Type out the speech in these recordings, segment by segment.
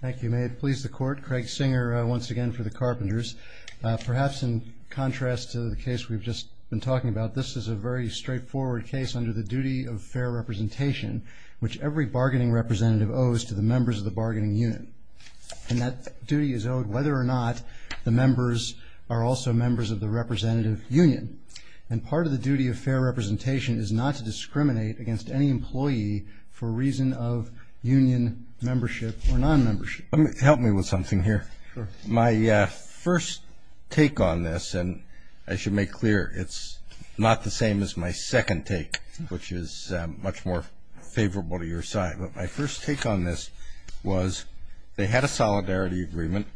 Thank you. May it please the Court, Craig Singer once again for the Carpenters. Perhaps in contrast to the case we've just been talking about, this is a very straightforward case under the duty of fair representation, which every bargaining representative owes to the members of the bargaining unit. And that duty is owed whether or not the members are also members of the representative union. And part of the duty of fair representation is not to discriminate against any employee for reason of union membership or non-membership. Help me with something here. My first take on this, and I should make clear it's not the same as my second take, which is much more favorable to your side. But my first take on this was they had a solidarity agreement.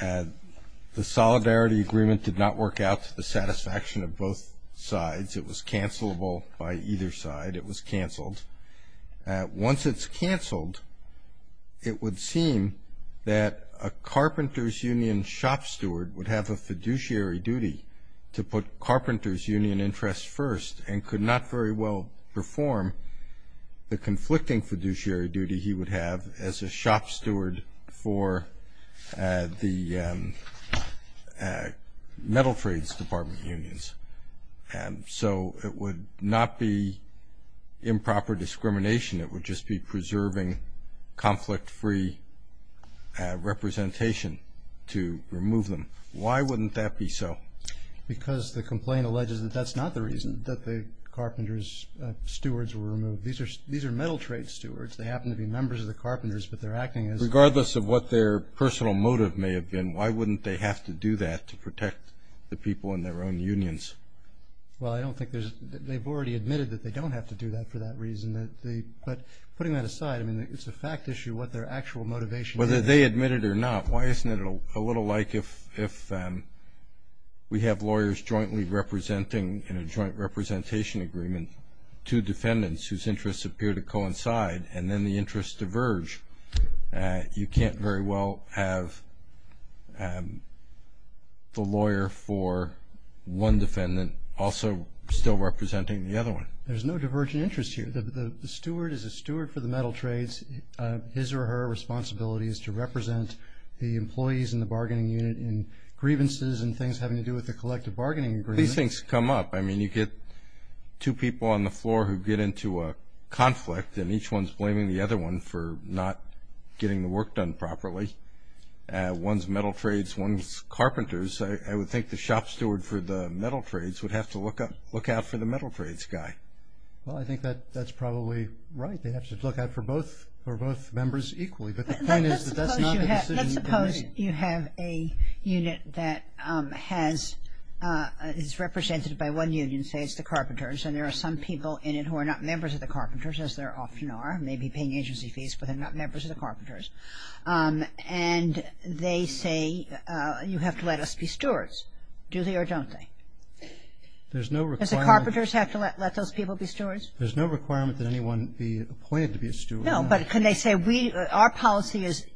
The solidarity agreement did not work out to the satisfaction of both sides. It was cancelable by either side. It was canceled. Once it's canceled, it would seem that a Carpenters Union shop steward would have a fiduciary duty to put Carpenters Union interests first and could not very well perform the conflicting fiduciary duty he would have as a shop steward for the Metal Trades Department unions. So it would not be improper discrimination. It would just be preserving conflict-free representation to remove them. Why wouldn't that be so? Because the complaint alleges that that's not the reason that the carpenters stewards were removed. These are metal trade stewards. They happen to be members of the carpenters, but they're acting as— Regardless of what their personal motive may have been, why wouldn't they have to do that to protect the people in their own unions? Well, I don't think there's—they've already admitted that they don't have to do that for that reason. But putting that aside, I mean, it's a fact issue what their actual motivation is. Whether they admit it or not, why isn't it a little like if we have lawyers jointly representing, in a joint representation agreement, two defendants whose interests appear to coincide and then the interests diverge? You can't very well have the lawyer for one defendant also still representing the other one. There's no divergent interest here. The steward is a steward for the metal trades. His or her responsibility is to represent the employees in the bargaining unit in grievances and things having to do with the collective bargaining agreement. These things come up. I mean, you get two people on the floor who get into a conflict, and each one's blaming the other one for not getting the work done properly. One's metal trades, one's carpenters. I would think the shop steward for the metal trades would have to look out for the metal trades guy. Well, I think that's probably right. They have to look out for both members equally. But the point is that that's not the decision they're making. Let's suppose you have a unit that is represented by one union, say it's the carpenters, and there are some people in it who are not members of the carpenters, as there often are, may be paying agency fees, but they're not members of the carpenters. And they say, you have to let us be stewards. Do they or don't they? There's no requirement. Does the carpenters have to let those people be stewards? There's no requirement that anyone be appointed to be a steward. No, but can they say, our policy is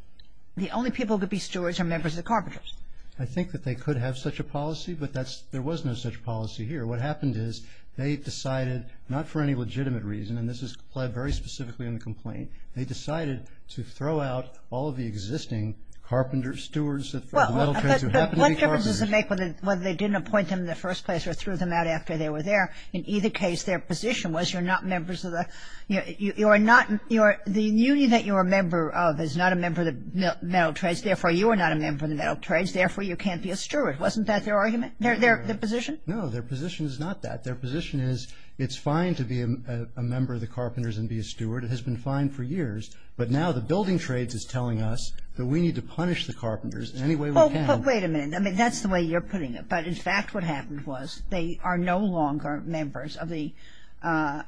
the only people who could be stewards are members of the carpenters. I think that they could have such a policy, but there was no such policy here. What happened is they decided, not for any legitimate reason, and this is implied very specifically in the complaint, they decided to throw out all of the existing carpenters, stewards of the metal trades who happened to be carpenters. But what difference does it make whether they didn't appoint them in the first place or threw them out after they were there? In either case, their position was you're not members of the ñ you are not ñ the union that you're a member of is not a member of the metal trades, therefore you are not a member of the metal trades, therefore you can't be a steward. Wasn't that their argument, their position? No, their position is not that. Their position is it's fine to be a member of the carpenters and be a steward. It has been fine for years. But now the building trades is telling us that we need to punish the carpenters in any way we can. Well, but wait a minute. I mean, that's the way you're putting it. But, in fact, what happened was they are no longer members of the ñ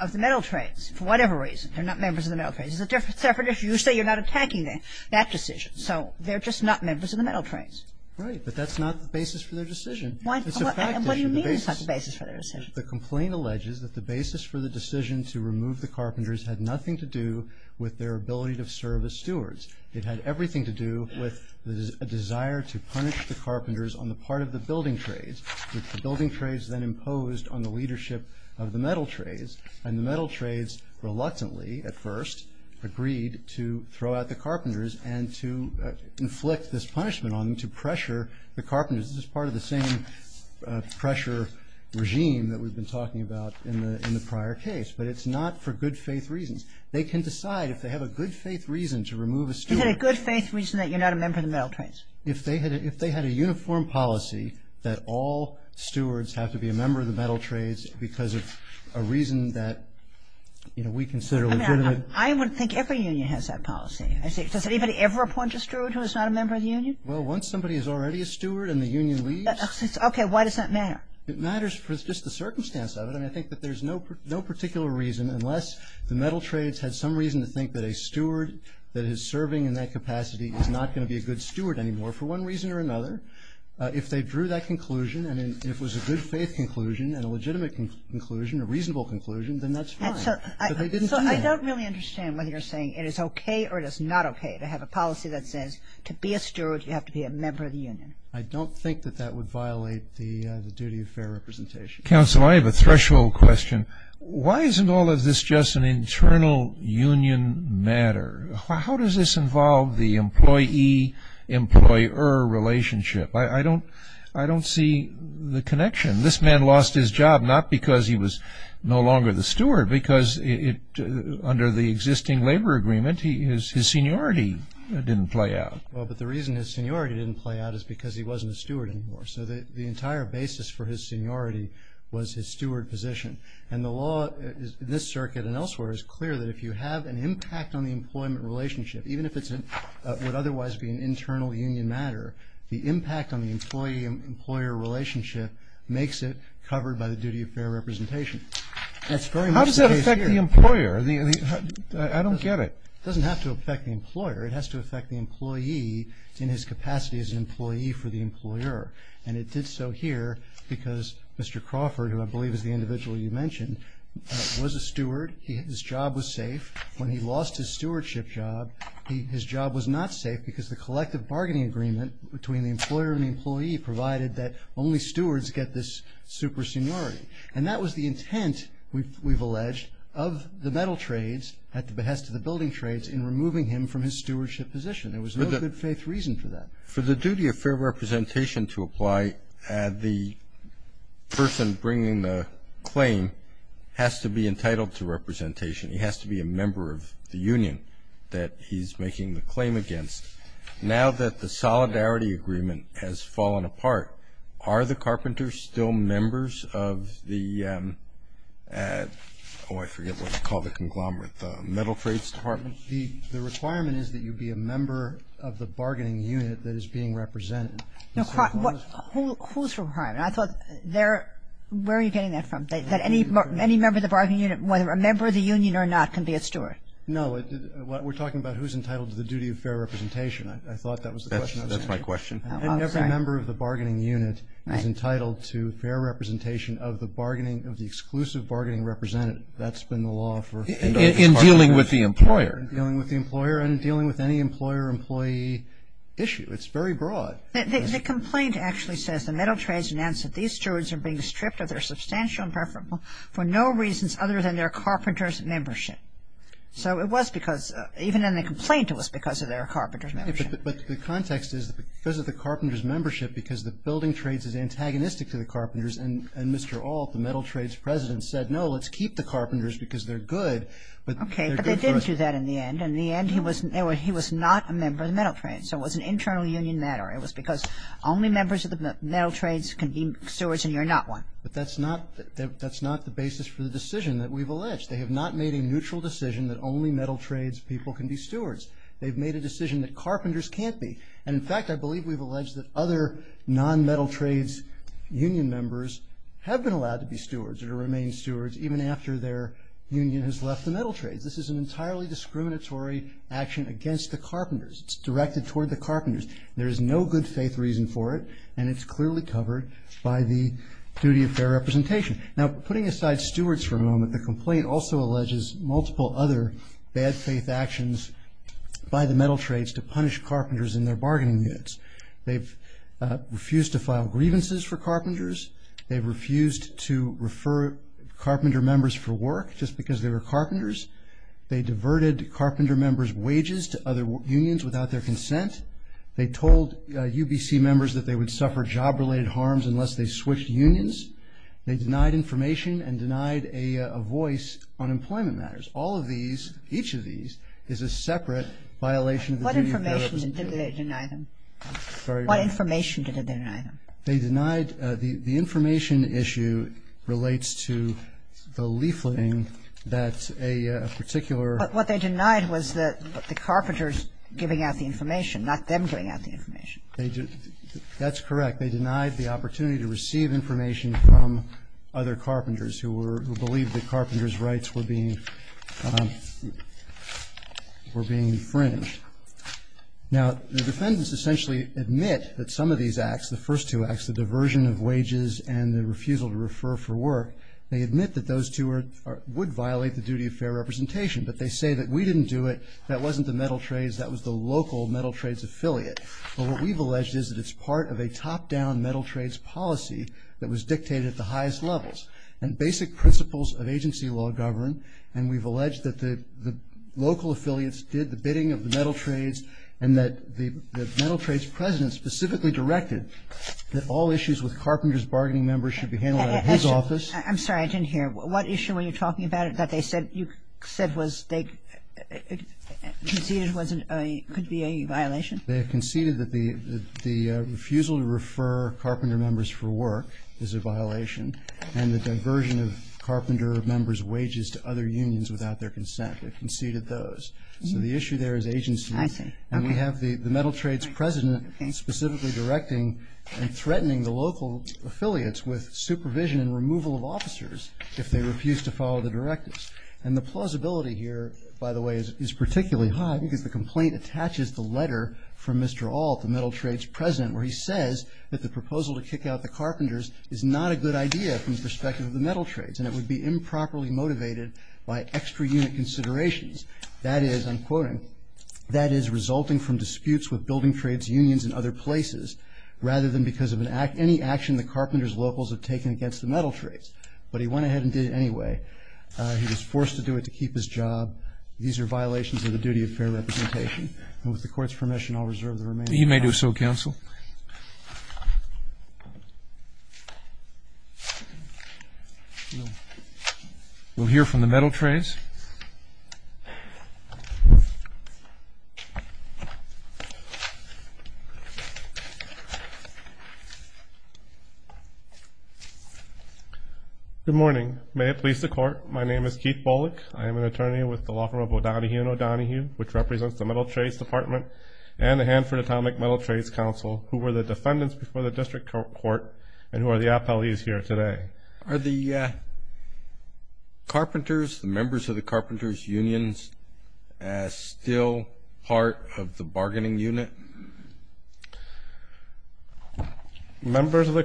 of the metal trades for whatever reason. They're not members of the metal trades. It's a separate issue. You say you're not attacking that decision. So they're just not members of the metal trades. Right, but that's not the basis for their decision. It's a fact issue. What do you mean it's not the basis for their decision? The complaint alleges that the basis for the decision to remove the carpenters had nothing to do with their ability to serve as stewards. It had everything to do with a desire to punish the carpenters on the part of the building trades, which the building trades then imposed on the leadership of the metal trades. And the metal trades reluctantly, at first, agreed to throw out the carpenters and to inflict this punishment on them to pressure the carpenters. This is part of the same pressure regime that we've been talking about in the ñ in the prior case. But it's not for good faith reasons. They can decide if they have a good faith reason to remove a steward. Is it a good faith reason that you're not a member of the metal trades? If they had ñ if they had a uniform policy that all stewards have to be a member of the metal trades because of a reason that, you know, we consider legitimate. I mean, I would think every union has that policy. Well, once somebody is already a steward and the union leaves ñ Okay. Why does that matter? It matters for just the circumstance of it. And I think that there's no particular reason, unless the metal trades had some reason to think that a steward that is serving in that capacity is not going to be a good steward anymore for one reason or another. If they drew that conclusion, and if it was a good faith conclusion and a legitimate conclusion, a reasonable conclusion, then that's fine. But they didn't do that. So I don't really understand whether you're saying it is okay or it is not okay to have a policy that says to be a steward you have to be a member of the union. I don't think that that would violate the duty of fair representation. Counsel, I have a threshold question. Why isn't all of this just an internal union matter? How does this involve the employee-employer relationship? I don't ñ I don't see the connection. Because under the existing labor agreement, his seniority didn't play out. Well, but the reason his seniority didn't play out is because he wasn't a steward anymore. So the entire basis for his seniority was his steward position. And the law in this circuit and elsewhere is clear that if you have an impact on the employment relationship, even if it would otherwise be an internal union matter, the impact on the employee-employer relationship makes it covered by the duty of fair representation. That's very much the case here. How does that affect the employer? I don't get it. It doesn't have to affect the employer. It has to affect the employee in his capacity as an employee for the employer. And it did so here because Mr. Crawford, who I believe is the individual you mentioned, was a steward. His job was safe. When he lost his stewardship job, his job was not safe because the collective bargaining agreement between the employer and the employee provided that only stewards get this super seniority. And that was the intent, we've alleged, of the metal trades at the behest of the building trades in removing him from his stewardship position. There was no good faith reason for that. For the duty of fair representation to apply, the person bringing the claim has to be entitled to representation. He has to be a member of the union that he's making the claim against. Now that the solidarity agreement has fallen apart, are the carpenters still members of the, oh, I forget what you call the conglomerate, the metal trades department? The requirement is that you be a member of the bargaining unit that is being represented. No. Whose requirement? I thought they're ñ where are you getting that from? That any member of the bargaining unit, whether a member of the union or not, can be a steward? No. We're talking about who's entitled to the duty of fair representation. I thought that was the question. That's my question. And every member of the bargaining unit is entitled to fair representation of the bargaining, of the exclusive bargaining represented. That's been the law for a number of years. In dealing with the employer. In dealing with the employer and dealing with any employer-employee issue. It's very broad. The complaint actually says the metal trades announce that these stewards are being stripped of their substantial and preferable for no reasons other than their carpenters' membership. So it was because, even in the complaint, it was because of their carpenters' membership. But the context is that because of the carpenters' membership, because the building trades is antagonistic to the carpenters, and Mr. Alt, the metal trades president, said, no, let's keep the carpenters because they're good. Okay. But they didn't do that in the end. In the end, he was not a member of the metal trades. So it was an internal union matter. It was because only members of the metal trades can be stewards and you're not one. But that's not the basis for the decision that we've alleged. They have not made a neutral decision that only metal trades people can be stewards. They've made a decision that carpenters can't be. And, in fact, I believe we've alleged that other non-metal trades union members have been allowed to be stewards or to remain stewards even after their union has left the metal trades. This is an entirely discriminatory action against the carpenters. It's directed toward the carpenters. There is no good faith reason for it, and it's clearly covered by the duty of fair representation. Now, putting aside stewards for a moment, the complaint also alleges multiple other bad faith actions by the metal trades to punish carpenters in their bargaining units. They've refused to file grievances for carpenters. They've refused to refer carpenter members for work just because they were carpenters. They diverted carpenter members' wages to other unions without their consent. They told UBC members that they would suffer job-related harms unless they switched unions. They denied information and denied a voice on employment matters. All of these, each of these, is a separate violation of the duty of fair representation. What information did they deny them? Sorry? What information did they deny them? They denied the information issue relates to the leafleting that a particular But what they denied was that the carpenters giving out the information, not them giving out the information. That's correct. They denied the opportunity to receive information from other carpenters who were, who believed that carpenters' rights were being infringed. Now, the defendants essentially admit that some of these acts, the first two acts, the diversion of wages and the refusal to refer for work, they admit that those two would violate the duty of fair representation, but they say that we didn't do it, that wasn't the metal trades, that was the local metal trades affiliate. But what we've alleged is that it's part of a top-down metal trades policy that was dictated at the highest levels. And basic principles of agency law govern, and we've alleged that the local affiliates did the bidding of the metal trades and that the metal trades president specifically directed that all issues with carpenters' bargaining members should be handled out of his office. I'm sorry, I didn't hear. What issue were you talking about that they said you said was, they conceded could be a violation? They conceded that the refusal to refer carpenter members for work is a violation and the diversion of carpenter members' wages to other unions without their consent. They conceded those. So the issue there is agency. I see. And we have the metal trades president specifically directing and threatening the local affiliates with supervision and removal of officers if they refuse to follow the directives. And the plausibility here, by the way, is particularly high because the complaint attaches the letter from Mr. Ault, the metal trades president, where he says that the proposal to kick out the carpenters is not a good idea from the perspective of the metal trades and it would be improperly motivated by extra-unit considerations. That is, I'm quoting, that is resulting from disputes with building trades unions in other places rather than because of any action the carpenters' locals have taken against the metal trades. But he went ahead and did it anyway. He was forced to do it to keep his job. These are violations of the duty of fair representation. And with the Court's permission, I'll reserve the remaining time. You may do so, counsel. Thank you. We'll hear from the metal trades. Good morning. May it please the Court, my name is Keith Bolick. I am an attorney with the law firm of O'Donohue & O'Donohue, which represents the Metal Trades Department and the Hanford Atomic Metal Trades Council, who were the defendants before the district court and who are the appellees here today. Are the carpenters, the members of the carpenters' unions, still part of the bargaining unit? Members of the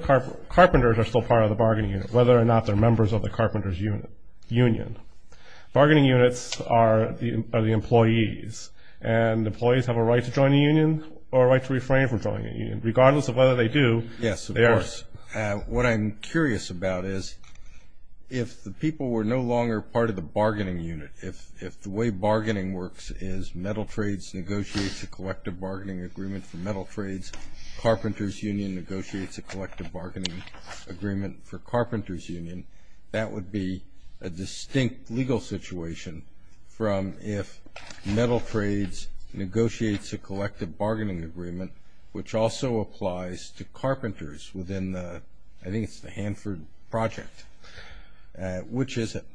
carpenters are still part of the bargaining unit, whether or not they're members of the carpenters' union. Bargaining units are the employees, and employees have a right to join a union or a right to refrain from joining a union, regardless of whether they do. Yes, of course. What I'm curious about is if the people were no longer part of the bargaining unit, if the way bargaining works is metal trades negotiates a collective bargaining agreement for metal trades, carpenters' union negotiates a collective bargaining agreement for carpenters' union, that would be a distinct legal situation from if metal trades negotiates a collective bargaining agreement, which also applies to carpenters within the, I think it's the Hanford project. Which is it?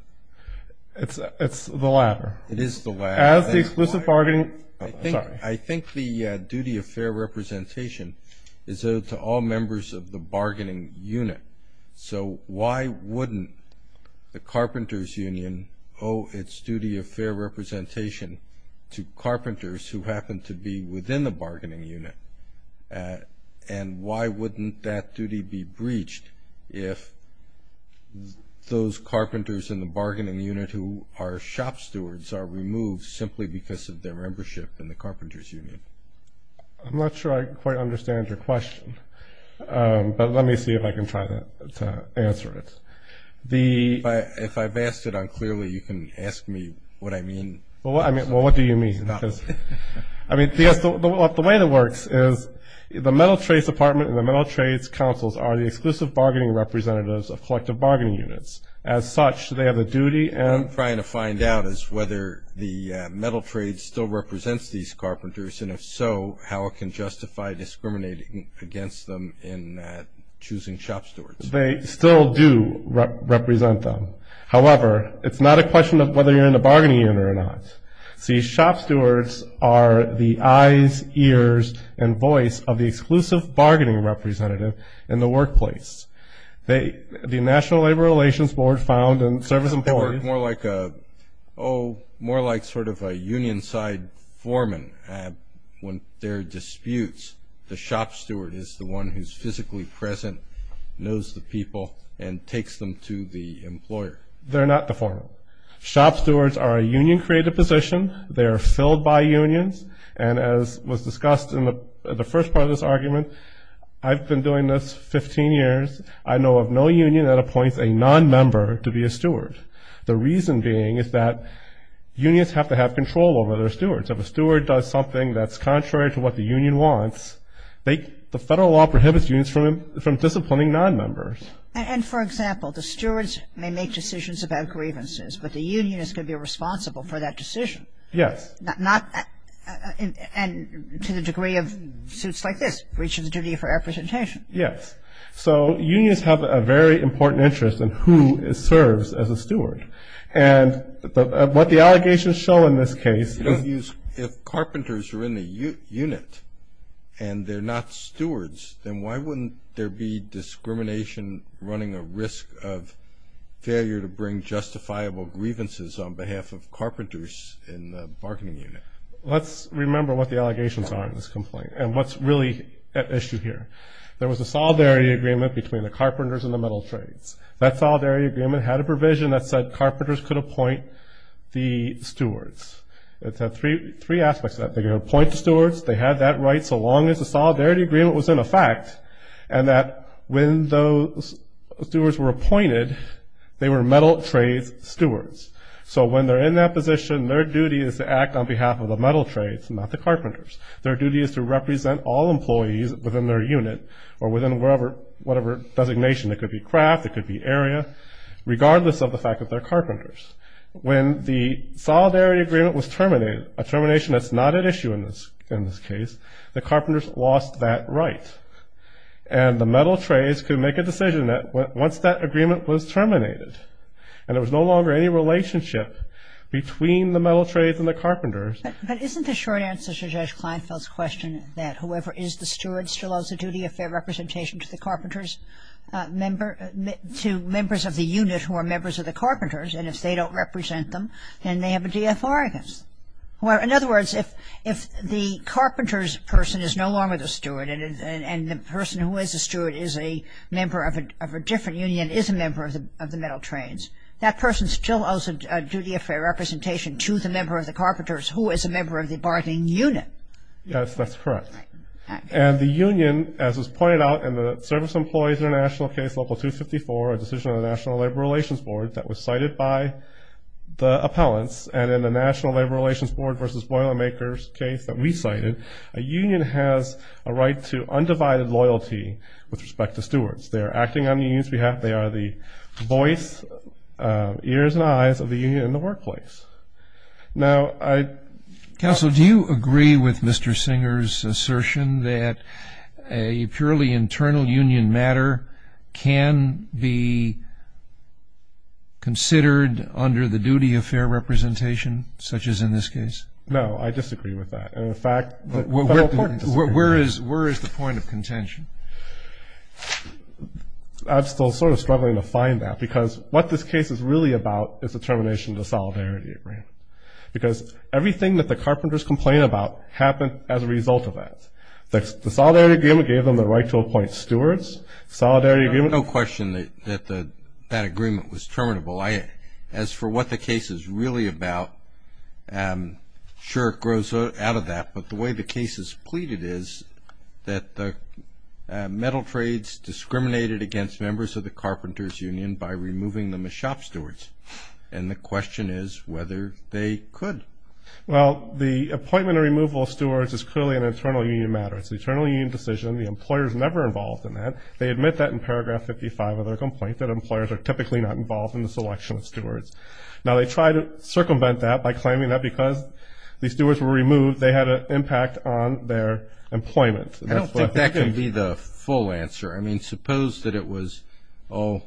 It's the latter. It is the latter. As the exclusive bargaining, sorry. I think the duty of fair representation is owed to all members of the bargaining unit. So why wouldn't the carpenters' union owe its duty of fair representation to carpenters who happen to be within the bargaining unit? And why wouldn't that duty be breached if those carpenters in the bargaining unit who are shop stewards are removed simply because of their membership in the carpenters' union? I'm not sure I quite understand your question. But let me see if I can try to answer it. If I've asked it unclearly, you can ask me what I mean. Well, what do you mean? I mean, the way it works is the metal trades department and the metal trades councils are the exclusive bargaining representatives of collective bargaining units. As such, they have a duty. What I'm trying to find out is whether the metal trades still represents these carpenters, and if so, how it can justify discriminating against them in choosing shop stewards. They still do represent them. However, it's not a question of whether you're in the bargaining unit or not. See, shop stewards are the eyes, ears, and voice of the exclusive bargaining representative in the workplace. The National Labor Relations Board found in service employees. More like a, oh, more like sort of a union-side foreman. When there are disputes, the shop steward is the one who's physically present, knows the people, and takes them to the employer. They're not the foreman. Shop stewards are a union-created position. They are filled by unions. And as was discussed in the first part of this argument, I've been doing this 15 years. I know of no union that appoints a nonmember to be a steward. The reason being is that unions have to have control over their stewards. If a steward does something that's contrary to what the union wants, the federal law prohibits unions from disciplining nonmembers. And, for example, the stewards may make decisions about grievances, but the union is going to be responsible for that decision. Yes. And to the degree of suits like this, breaches duty for representation. Yes. So unions have a very important interest in who serves as a steward. And what the allegations show in this case is – If carpenters are in the unit and they're not stewards, then why wouldn't there be discrimination running a risk of failure to bring justifiable grievances on behalf of carpenters in the bargaining unit? Let's remember what the allegations are in this complaint and what's really at issue here. There was a solidarity agreement between the carpenters and the metal trades. That solidarity agreement had a provision that said carpenters could appoint the stewards. It had three aspects to that. They could appoint the stewards. They had that right so long as the solidarity agreement was in effect and that when those stewards were appointed, they were metal trades stewards. So when they're in that position, their duty is to act on behalf of the metal trades and not the carpenters. Their duty is to represent all employees within their unit or within whatever designation – it could be craft, it could be area – regardless of the fact that they're carpenters. When the solidarity agreement was terminated, a termination that's not at issue in this case, the carpenters lost that right. And the metal trades could make a decision once that agreement was terminated and there was no longer any relationship between the metal trades and the carpenters. But isn't the short answer to Judge Kleinfeld's question that whoever is the steward still owes a duty of fair representation to the carpenters – to members of the unit who are members of the carpenters and if they don't represent them, then they have a de authoris. In other words, if the carpenter's person is no longer the steward and the person who is the steward is a member of a different union, is a member of the metal trades, that person still owes a duty of fair representation to the member of the carpenters who is a member of the bargaining unit. Yes, that's correct. And the union, as was pointed out in the Service Employees International Case Local 254, a decision of the National Labor Relations Board that was cited by the appellants, and in the National Labor Relations Board v. Boilermakers case that we cited, a union has a right to undivided loyalty with respect to stewards. They are acting on the union's behalf. Counsel, do you agree with Mr. Singer's assertion that a purely internal union matter can be considered under the duty of fair representation, such as in this case? No, I disagree with that. Where is the point of contention? I'm still sort of struggling to find that because what this case is really about is the termination of the Solidarity Agreement because everything that the carpenters complain about happened as a result of that. The Solidarity Agreement gave them the right to appoint stewards. The Solidarity Agreement- No question that that agreement was terminable. As for what the case is really about, sure, it grows out of that, but the way the case is pleaded is that the metal trades discriminated against members of the carpenters' union by removing them as shop stewards, and the question is whether they could. Well, the appointment or removal of stewards is clearly an internal union matter. It's an internal union decision. The employer is never involved in that. They admit that in paragraph 55 of their complaint, that employers are typically not involved in the selection of stewards. Now, they try to circumvent that by claiming that because the stewards were removed, they had an impact on their employment. I don't think that can be the full answer. I mean, suppose that it was, oh,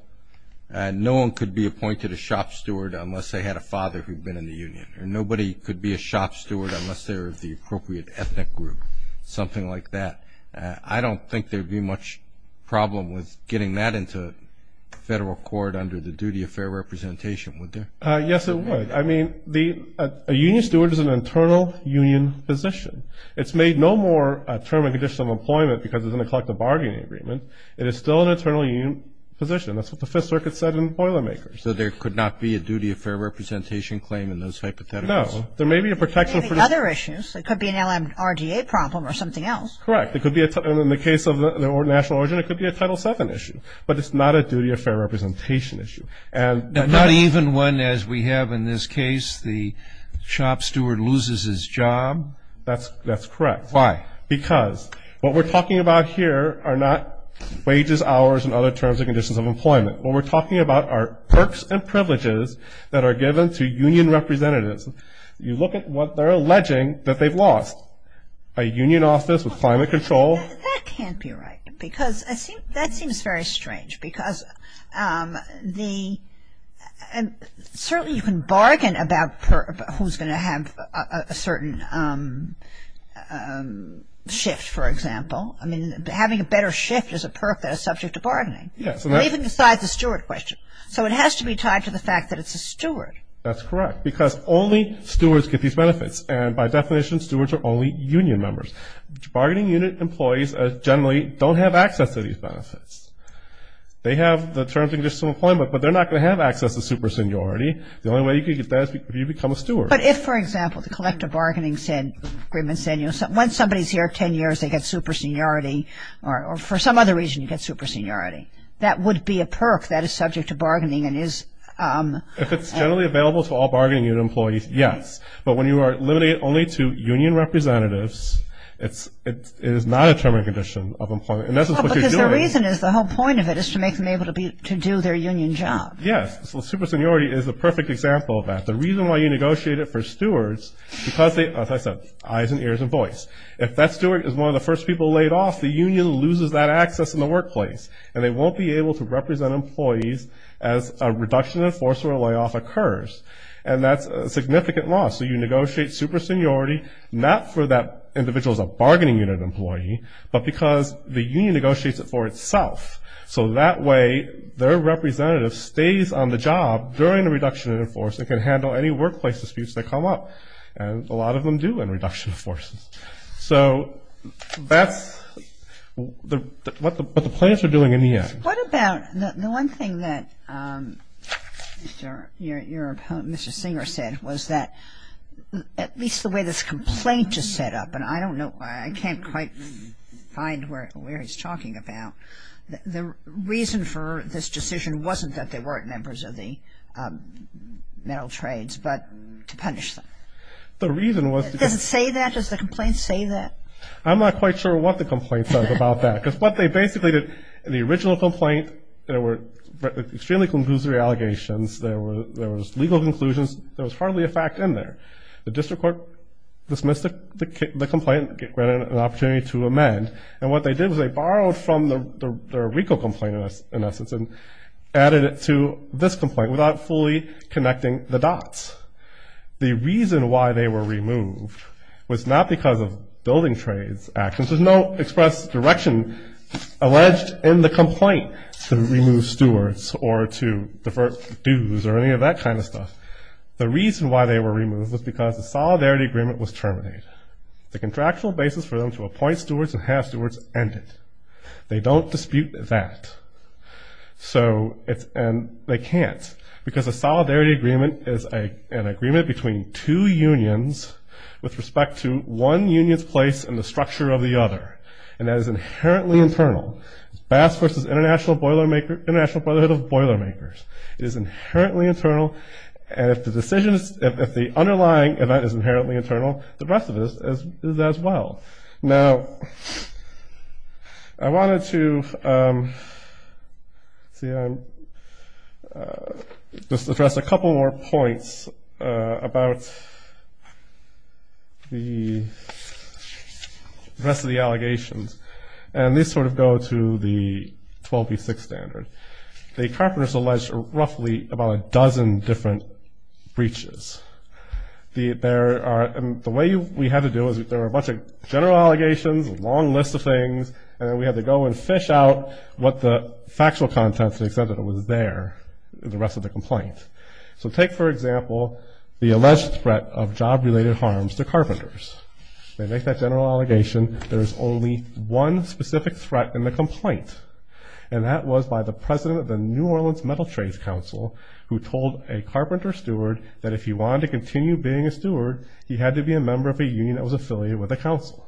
no one could be appointed a shop steward unless they had a father who had been in the union, or nobody could be a shop steward unless they were the appropriate ethnic group, something like that. I don't think there would be much problem with getting that into federal court under the duty of fair representation, would there? Yes, it would. I mean, a union steward is an internal union position. It's made no more a term and condition of employment because it's in a collective bargaining agreement. It is still an internal union position. That's what the Fifth Circuit said in Boilermakers. So there could not be a duty of fair representation claim in those hypotheticals? No. There may be a protection for the other issues. It could be an LMRDA problem or something else. Correct. It could be a, in the case of the national origin, it could be a Title VII issue, but it's not a duty of fair representation issue. Not even one as we have in this case, the shop steward loses his job. That's correct. Why? Because what we're talking about here are not wages, hours, and other terms and conditions of employment. What we're talking about are perks and privileges that are given to union representatives. You look at what they're alleging that they've lost, a union office with climate control. That can't be right because that seems very strange because the, Certainly you can bargain about who's going to have a certain shift, for example. I mean, having a better shift is a perk that is subject to bargaining. Yes. Even besides the steward question. So it has to be tied to the fact that it's a steward. That's correct because only stewards get these benefits, and by definition, stewards are only union members. They have the terms and conditions of employment, but they're not going to have access to super seniority. The only way you can get that is if you become a steward. But if, for example, the collective bargaining agreement said, once somebody's here 10 years, they get super seniority, or for some other reason, you get super seniority. That would be a perk that is subject to bargaining and is If it's generally available to all bargaining union employees, yes. But when you are limited only to union representatives, it is not a term or condition of employment. Well, because the reason is, the whole point of it is to make them able to do their union job. Yes. So super seniority is a perfect example of that. The reason why you negotiate it for stewards, because they, as I said, eyes and ears and voice. If that steward is one of the first people laid off, the union loses that access in the workplace, and they won't be able to represent employees as a reduction of force or a layoff occurs, and that's a significant loss. So you negotiate super seniority not for that individual as a bargaining unit employee, but because the union negotiates it for itself. So that way, their representative stays on the job during the reduction of force and can handle any workplace disputes that come up, and a lot of them do in reduction of force. So that's what the plans are doing in the end. What about the one thing that your opponent, Mr. Singer, said, was that at least the way this complaint is set up, and I don't know, I can't quite find where he's talking about, the reason for this decision wasn't that they weren't members of the metal trades, but to punish them. The reason was to do that. Does it say that? Does the complaint say that? I'm not quite sure what the complaint says about that, because what they basically did in the original complaint, there were extremely conclusive allegations. There was legal conclusions. There was hardly a fact in there. The district court dismissed the complaint, granted an opportunity to amend, and what they did was they borrowed from their RICO complaint, in essence, and added it to this complaint without fully connecting the dots. The reason why they were removed was not because of building trades actions. There's no express direction alleged in the complaint to remove stewards or to divert dues or any of that kind of stuff. The reason why they were removed was because the solidarity agreement was terminated. The contractual basis for them to appoint stewards and have stewards ended. They don't dispute that, and they can't, because a solidarity agreement is an agreement between two unions with respect to one union's place in the structure of the other, and that is inherently internal. It's Bass v. International Brotherhood of Boilermakers. It is inherently internal, and if the underlying event is inherently internal, the rest of it is as well. Now, I wanted to just address a couple more points about the rest of the allegations, and these sort of go to the 12v6 standard. The carpenters alleged roughly about a dozen different breaches. The way we had to do it was there were a bunch of general allegations, a long list of things, and then we had to go and fish out what the factual content, to the extent that it was there, the rest of the complaint. So take, for example, the alleged threat of job-related harms to carpenters. They make that general allegation. There is only one specific threat in the complaint, and that was by the president of the New Orleans Metal Trades Council, who told a carpenter steward that if he wanted to continue being a steward, he had to be a member of a union that was affiliated with the council.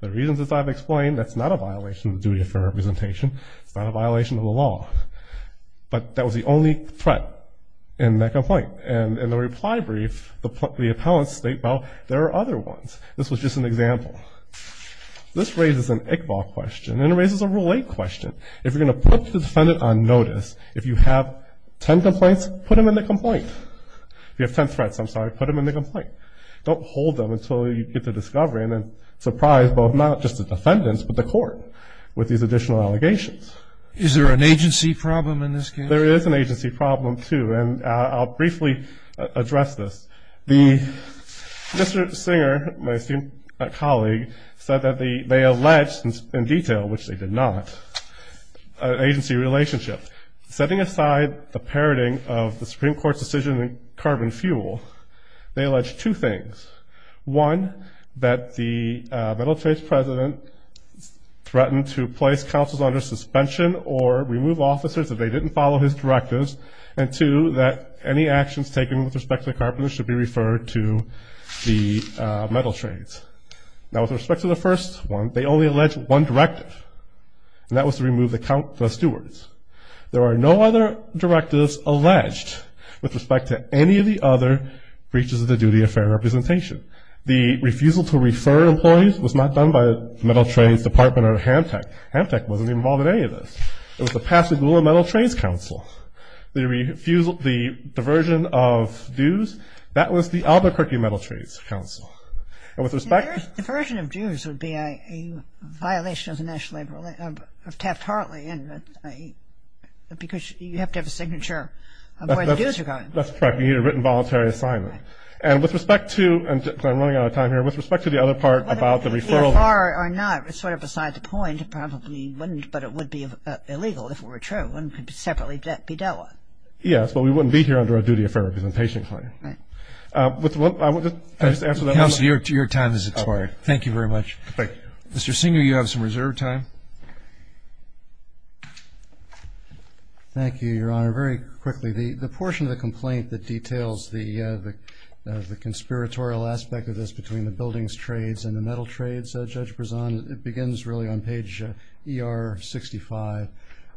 The reasons, as I've explained, that's not a violation of the duty of fair representation. It's not a violation of the law. But that was the only threat in that complaint, and in the reply brief, the appellants state, well, there are other ones. This was just an example. This raises an Iqbal question, and it raises a Rule 8 question. If you're going to put the defendant on notice, if you have ten complaints, put them in the complaint. If you have ten threats, I'm sorry, put them in the complaint. Don't hold them until you get to discovery and then surprise both, not just the defendants, but the court with these additional allegations. Is there an agency problem in this case? There is an agency problem, too, and I'll briefly address this. Mr. Singer, my esteemed colleague, said that they alleged in detail, which they did not, an agency relationship. Setting aside the parroting of the Supreme Court's decision in carbon fuel, they alleged two things. One, that the Middle Trace president threatened to place councils under suspension or remove officers if they didn't follow his directives, and two, that any actions taken with respect to the carpenters should be referred to the Metal Trades. Now, with respect to the first one, they only alleged one directive, and that was to remove the stewards. There are no other directives alleged with respect to any of the other breaches of the duty of fair representation. The refusal to refer employees was not done by the Metal Trades Department or HamTech. HamTech wasn't involved in any of this. It was the Pasadena Metal Trades Council. The diversion of dues, that was the Albuquerque Metal Trades Council. And with respect to- Diversion of dues would be a violation of the National Labor Law, of Taft-Hartley, because you have to have a signature of where the dues are going. That's correct. You need a written, voluntary assignment. And with respect to, because I'm running out of time here, with respect to the other part about the referral- The car or not is sort of beside the point. It probably wouldn't, but it would be illegal if it were true, and could separately be dealt with. Yes, but we wouldn't be here under a duty of fair representation claim. Right. I want to just answer that- Counsel, your time has expired. Thank you very much. Thank you. Mr. Singer, you have some reserved time. Thank you, Your Honor. Very quickly, the portion of the complaint that details the conspiratorial aspect of this between the buildings trades and the metal trades, Judge Brezon, it begins really on page ER 65,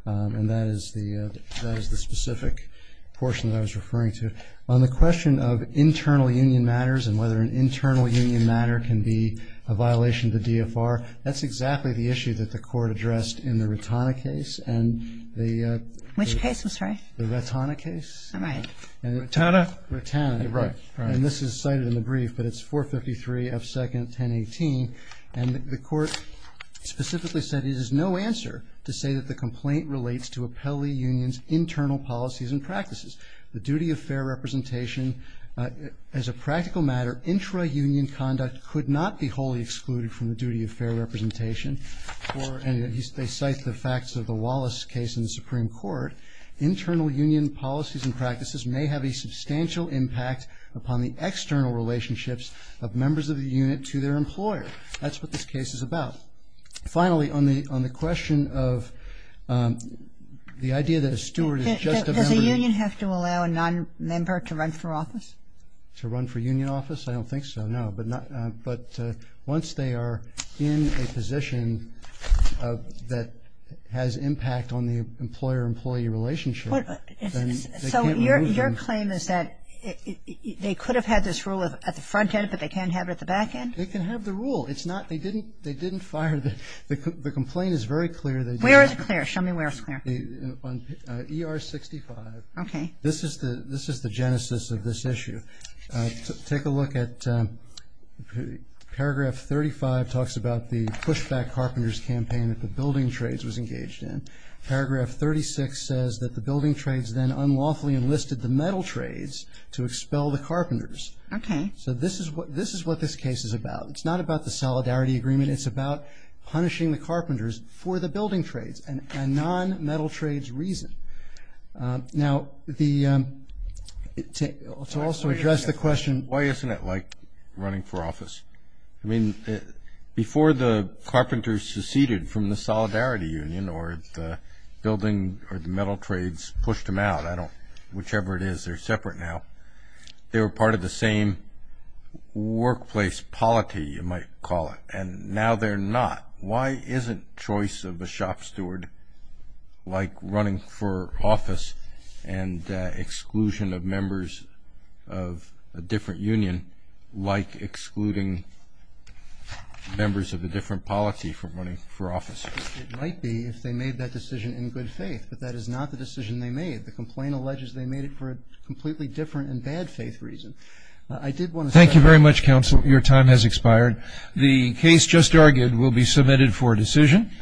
and that is the specific portion that I was referring to. On the question of internal union matters and whether an internal union matter can be a violation of the DFR, that's exactly the issue that the Court addressed in the Ratana case and the- Which case, I'm sorry? The Ratana case. All right. Ratana? Ratana. Right, right. And this is cited in the brief, but it's 453 F. 2nd, 1018. And the Court specifically said, it is no answer to say that the complaint relates to appellee unions' internal policies and practices. The duty of fair representation, as a practical matter, intra-union conduct could not be wholly excluded from the duty of fair representation. And they cite the facts of the Wallace case in the Supreme Court. Internal union policies and practices may have a substantial impact upon the external relationships of members of the unit to their employer. That's what this case is about. Finally, on the question of the idea that a steward is just a member- Does a union have to allow a nonmember to run for office? To run for union office? I don't think so, no. But once they are in a position that has impact on the employer-employee relationship- So your claim is that they could have had this rule at the front end, but they can't have it at the back end? They can have the rule. It's not- they didn't fire the- the complaint is very clear. Where is it clear? Show me where it's clear. On ER 65. Okay. This is the genesis of this issue. Take a look at paragraph 35 talks about the pushback carpenters campaign that the building trades was engaged in. Paragraph 36 says that the building trades then unlawfully enlisted the metal trades to expel the carpenters. Okay. So this is what- this is what this case is about. It's not about the solidarity agreement. It's about punishing the carpenters for the building trades and nonmetal trades reason. Now, the- to also address the question- Why isn't it like running for office? I mean, before the carpenters seceded from the solidarity union or the building or the metal trades pushed them out, I don't- whichever it is, they're separate now. They were part of the same workplace polity, you might call it, and now they're not. Why isn't choice of a shop steward like running for office and exclusion of members of a different union like excluding members of a different polity from running for office? It might be if they made that decision in good faith, but that is not the decision they made. The complaint alleges they made it for a completely different and bad faith reason. I did want to say- Thank you very much, counsel. Your time has expired. The case just argued will be submitted for decision.